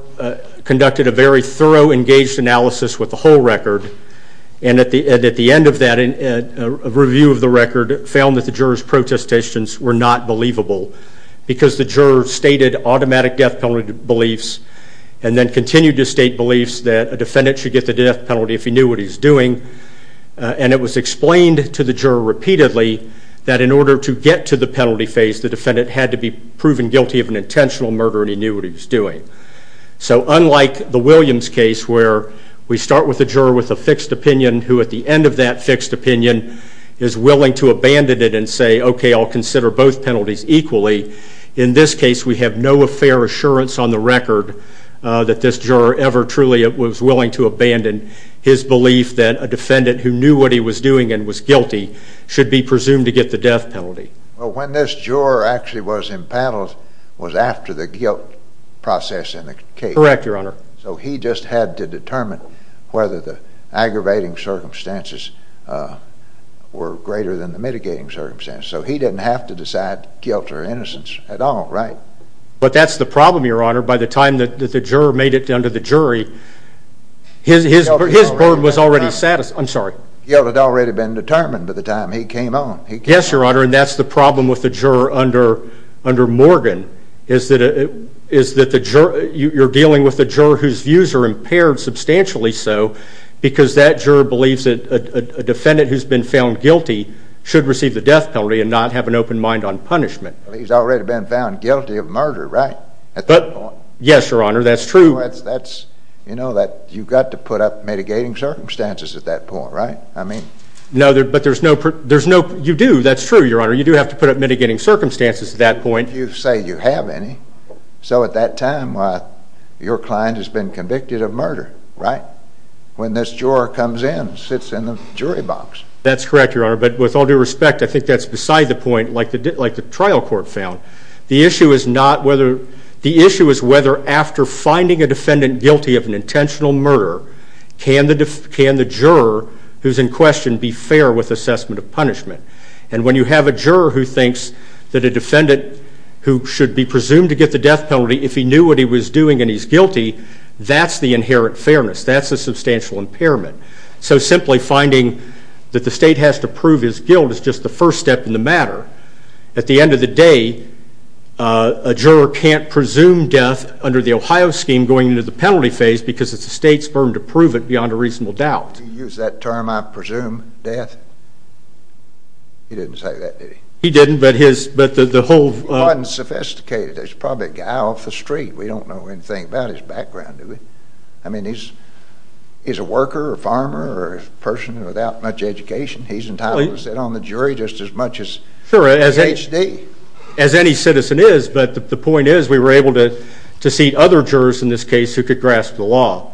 conducted a very thorough, engaged analysis with the whole record, and at the end of that review of the record found that the jurors' protestations were not believable because the juror stated automatic death penalty beliefs and then continued to state beliefs that a defendant should get the death penalty if he knew what he was doing, and it was explained to the juror repeatedly that in order to get to the penalty phase, the defendant had to be proven guilty of an intentional murder and he knew what he was doing. So unlike the Williams case, where we start with a juror with a fixed opinion who, at the end of that fixed opinion, is willing to abandon it and say, okay, I'll consider both penalties equally, in this case we have no fair assurance on the record that this juror ever truly was willing to abandon his belief that a defendant who knew what he was doing and was guilty should be presumed to get the death penalty. Well, when this juror actually was impaled was after the guilt process in the case. Correct, Your Honor. So he just had to determine whether the aggravating circumstances were greater than the mitigating circumstances. So he didn't have to decide guilt or innocence at all, right? But that's the problem, Your Honor. By the time that the juror made it under the jury, his burden was already satisfied. Guilt had already been determined by the time he came on. Yes, Your Honor, and that's the problem with the juror under Morgan, is that you're dealing with a juror whose views are impaired, substantially so, because that juror believes that a defendant who's been found guilty should receive the death penalty and not have an open mind on punishment. Well, he's already been found guilty of murder, right? Yes, Your Honor, that's true. You know that you've got to put up mitigating circumstances at that point, right? I mean... No, but there's no... You do, that's true, Your Honor. You do have to put up mitigating circumstances at that point. You say you have any. So at that time, your client has been convicted of murder, right? When this juror comes in, sits in the jury box. That's correct, Your Honor, but with all due respect, I think that's beside the point, like the trial court found. The issue is whether after finding a defendant guilty of an intentional murder, can the juror who's in question be fair with assessment of punishment? And when you have a juror who thinks that a defendant who should be presumed to get the death penalty, if he knew what he was doing and he's guilty, that's the inherent fairness. That's a substantial impairment. So simply finding that the state has to prove his guilt is just the first step in the matter. At the end of the day, a juror can't presume death under the Ohio scheme going into the penalty phase because it's the state's firm to prove it beyond a reasonable doubt. Did he use that term, I presume death? He didn't say that, did he? He didn't, but the whole... He wasn't sophisticated. He was probably a guy off the street. We don't know anything about his background, do we? I mean, he's a worker or farmer or a person without much education. He's entitled to sit on the jury just as much as the HD. Sure, as any citizen is, but the point is we were able to seat other jurors in this case who could grasp the law.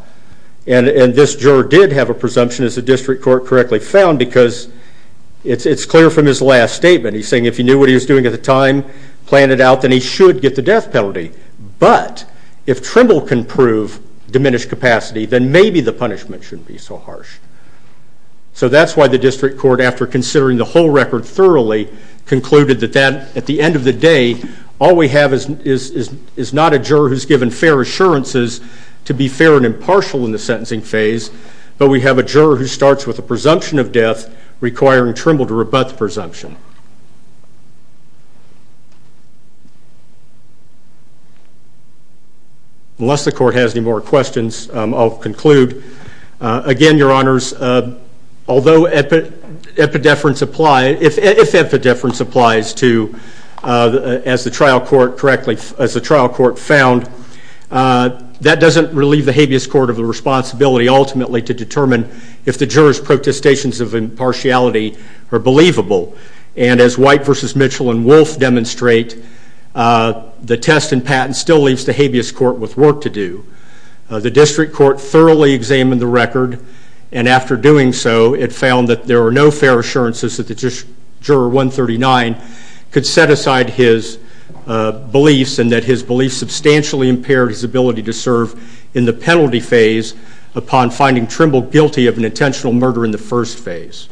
And this juror did have a presumption, as the district court correctly found, because it's clear from his last statement. He's saying if he knew what he was doing at the time, planned it out, then he should get the death penalty. But if Trimble can prove diminished capacity, then maybe the punishment shouldn't be so harsh. So that's why the district court, after considering the whole record thoroughly, concluded that at the end of the day, all we have is not a juror who's given fair assurances to be fair and impartial in the sentencing phase, but we have a juror who starts with a presumption of death requiring Trimble to rebut the presumption. Unless the court has any more questions, I'll conclude. Again, Your Honors, although if epidefference applies to, as the trial court correctly found, that doesn't relieve the habeas court of the responsibility ultimately to determine if the jurors' protestations of impartiality are believable. And as White v. Mitchell and Wolfe demonstrate, the test and patent still leaves the habeas court with work to do. The district court thoroughly examined the record, and after doing so, it found that there were no fair assurances that the juror 139 could set aside his beliefs and that his beliefs substantially impaired his ability to serve in the penalty phase upon finding Trimble guilty of an intentional murder in the first phase.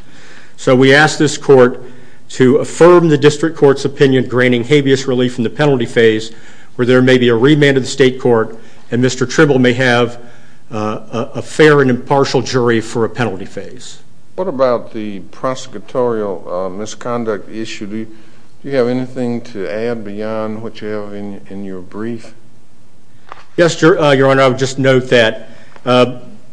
So we ask this court to affirm the district court's opinion granting habeas relief in the penalty phase where there may be a remand of the state court and Mr. Trimble may have a fair and impartial jury for a penalty phase. What about the prosecutorial misconduct issue? Do you have anything to add beyond what you have in your brief? Yes, Your Honor. I'll just note that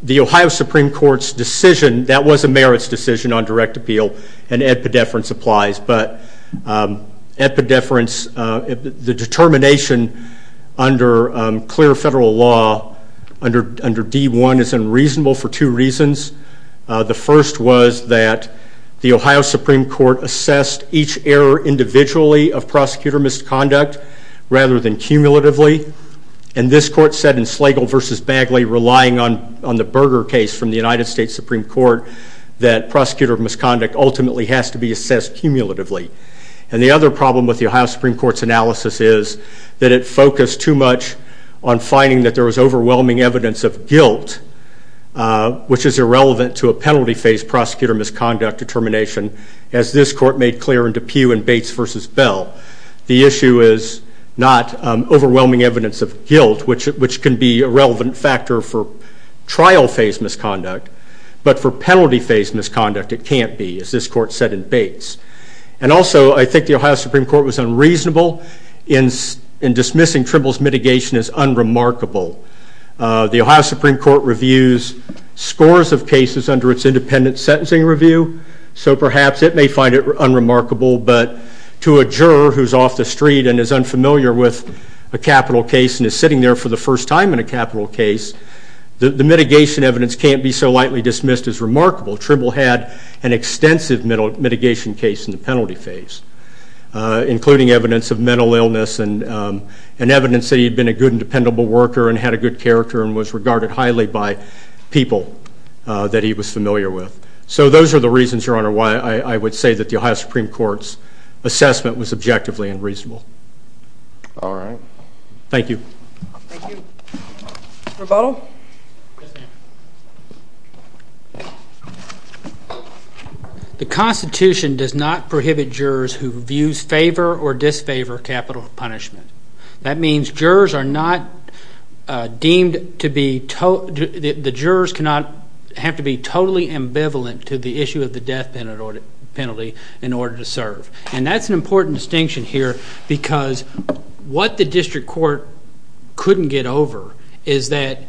the Ohio Supreme Court's decision, that was a merits decision on direct appeal, and epidefference applies. But epidefference, the determination under clear federal law, under D-1, is unreasonable for two reasons. The first was that the Ohio Supreme Court assessed each error individually of prosecutor misconduct rather than cumulatively, and this court said in Slagle v. Bagley, relying on the Berger case from the United States Supreme Court, that prosecutor misconduct ultimately has to be assessed cumulatively. And the other problem with the Ohio Supreme Court's analysis is that it focused too much on finding that there was overwhelming evidence of guilt, which is irrelevant to a penalty phase prosecutor misconduct determination, as this court made clear in Depew v. Bates v. Bell. The issue is not overwhelming evidence of guilt, which can be a relevant factor for trial phase misconduct, but for penalty phase misconduct it can't be, as this court said in Bates. And also, I think the Ohio Supreme Court was unreasonable in dismissing Trimble's mitigation as unremarkable. The Ohio Supreme Court reviews scores of cases under its independent sentencing review, so perhaps it may find it unremarkable, but to a juror who's off the street and is unfamiliar with a capital case and is sitting there for the first time in a capital case, the mitigation evidence can't be so lightly dismissed as remarkable. Trimble had an extensive mitigation case in the penalty phase, including evidence of mental illness and evidence that he'd been a good and dependable worker and had a good character and was regarded highly by people that he was familiar with. So those are the reasons, Your Honor, why I would say that the Ohio Supreme Court's assessment was objectively unreasonable. All right. Thank you. Thank you. Rebuttal? Yes, ma'am. The Constitution does not prohibit jurors who views favor or disfavor capital punishment. That means jurors cannot have to be totally ambivalent to the issue of the death penalty in order to serve. And that's an important distinction here because what the district court couldn't get over is that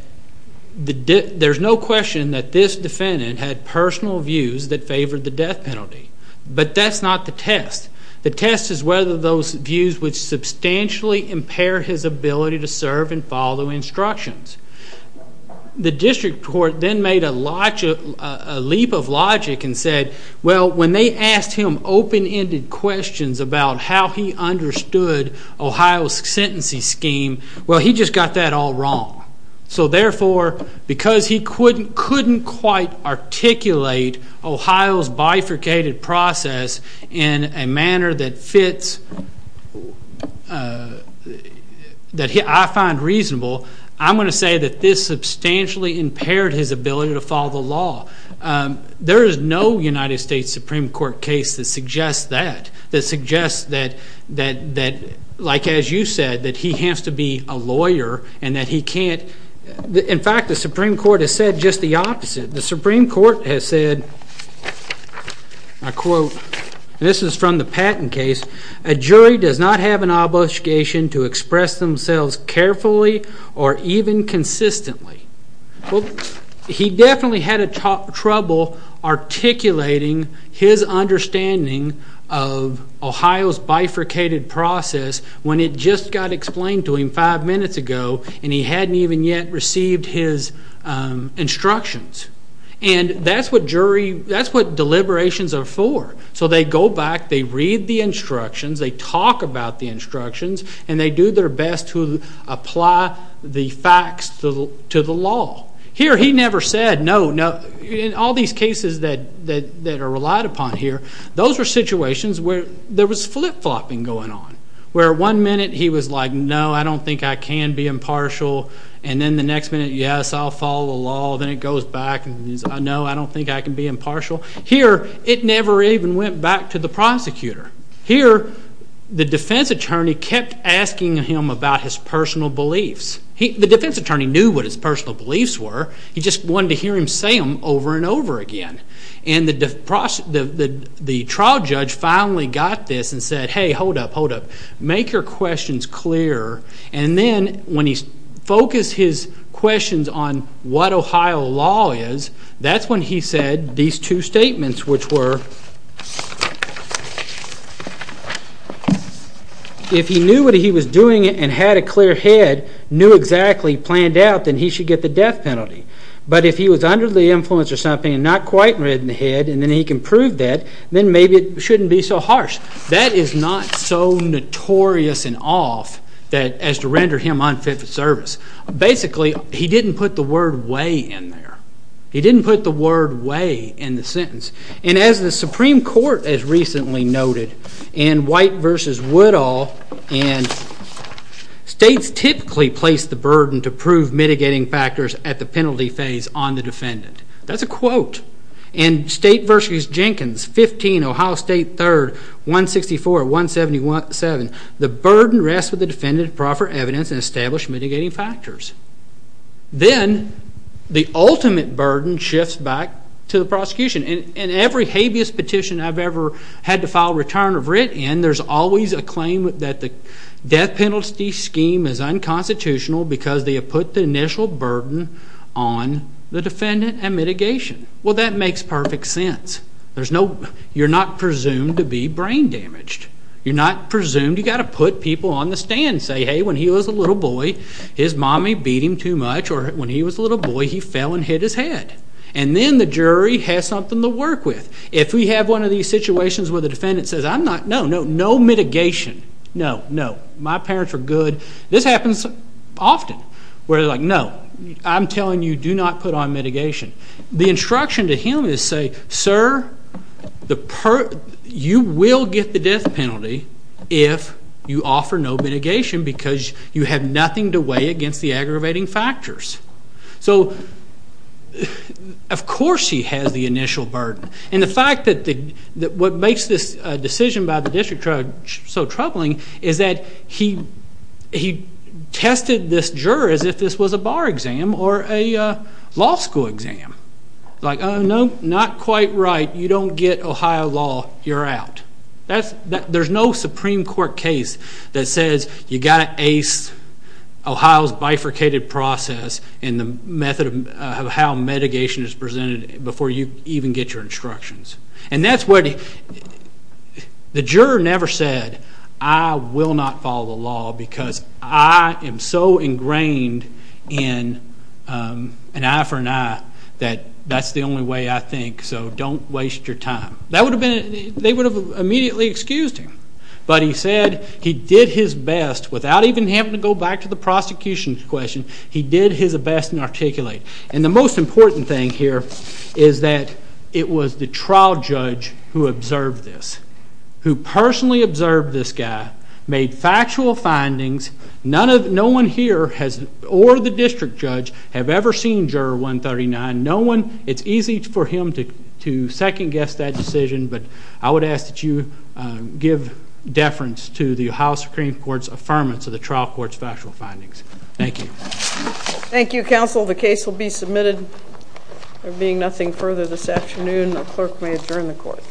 there's no question that this defendant had personal views that favored the death penalty. But that's not the test. The test is whether those views would substantially impair his ability to serve and follow instructions. The district court then made a leap of logic and said, well, when they asked him open-ended questions about how he understood Ohio's sentencing scheme, well, he just got that all wrong. So therefore, because he couldn't quite articulate Ohio's bifurcated process in a manner that fits, that I find reasonable, I'm going to say that this substantially impaired his ability to follow the law. There is no United States Supreme Court case that suggests that, that suggests that, like as you said, that he has to be a lawyer and that he can't. In fact, the Supreme Court has said just the opposite. The Supreme Court has said, I quote, and this is from the Patton case, a jury does not have an obligation to express themselves carefully or even consistently. He definitely had trouble articulating his understanding of Ohio's bifurcated process when it just got explained to him five minutes ago and he hadn't even yet received his instructions. And that's what jury, that's what deliberations are for. So they go back, they read the instructions, they talk about the instructions, and they do their best to apply the facts to the law. Here he never said, no, no. In all these cases that are relied upon here, those are situations where there was flip-flopping going on, where one minute he was like, no, I don't think I can be impartial, and then the next minute, yes, I'll follow the law, then it goes back and he's, no, I don't think I can be impartial. Here it never even went back to the prosecutor. Here the defense attorney kept asking him about his personal beliefs. The defense attorney knew what his personal beliefs were. He just wanted to hear him say them over and over again. And the trial judge finally got this and said, hey, hold up, hold up. Make your questions clear. And then when he focused his questions on what Ohio law is, that's when he said these two statements, which were, if he knew what he was doing and had a clear head, knew exactly, planned out, then he should get the death penalty. But if he was under the influence or something and not quite read in the head and then he can prove that, then maybe it shouldn't be so harsh. That is not so notorious and off as to render him unfit for service. Basically, he didn't put the word way in there. He didn't put the word way in the sentence. And as the Supreme Court has recently noted in White v. Woodall, states typically place the burden to prove mitigating factors at the penalty phase on the defendant. That's a quote. In State v. Jenkins, 15 Ohio State 3rd, 164, 177, the burden rests with the defendant to proffer evidence and establish mitigating factors. Then the ultimate burden shifts back to the prosecution. In every habeas petition I've ever had to file return of writ in, there's always a claim that the death penalty scheme is unconstitutional because they have put the initial burden on the defendant and mitigation. Well, that makes perfect sense. You're not presumed to be brain damaged. You're not presumed. You've got to put people on the stand and say, hey, when he was a little boy his mommy beat him too much or when he was a little boy he fell and hit his head. And then the jury has something to work with. If we have one of these situations where the defendant says, no, no, no mitigation, no, no, my parents are good. This happens often where they're like, no, I'm telling you, do not put on mitigation. The instruction to him is say, sir, you will get the death penalty if you offer no mitigation because you have nothing to weigh against the aggravating factors. So of course he has the initial burden. And the fact that what makes this decision by the district judge so troubling is that he tested this juror as if this was a bar exam or a law school exam. Like, oh, no, not quite right. You don't get Ohio law. You're out. There's no Supreme Court case that says you've got to ace Ohio's bifurcated process and the method of how mitigation is presented before you even get your instructions. And that's what the juror never said, I will not follow the law because I am so ingrained in an eye for an eye that that's the only way I think. So don't waste your time. They would have immediately excused him. But he said he did his best without even having to go back to the prosecution's question. He did his best and articulate. And the most important thing here is that it was the trial judge who observed this, who personally observed this guy, made factual findings. No one here or the district judge have ever seen Juror 139. No one. It's easy for him to second-guess that decision, but I would ask that you give deference to the Ohio Supreme Court's affirmance of the trial court's factual findings. Thank you. Thank you, counsel. The case will be submitted. There being nothing further this afternoon, the clerk may adjourn the court.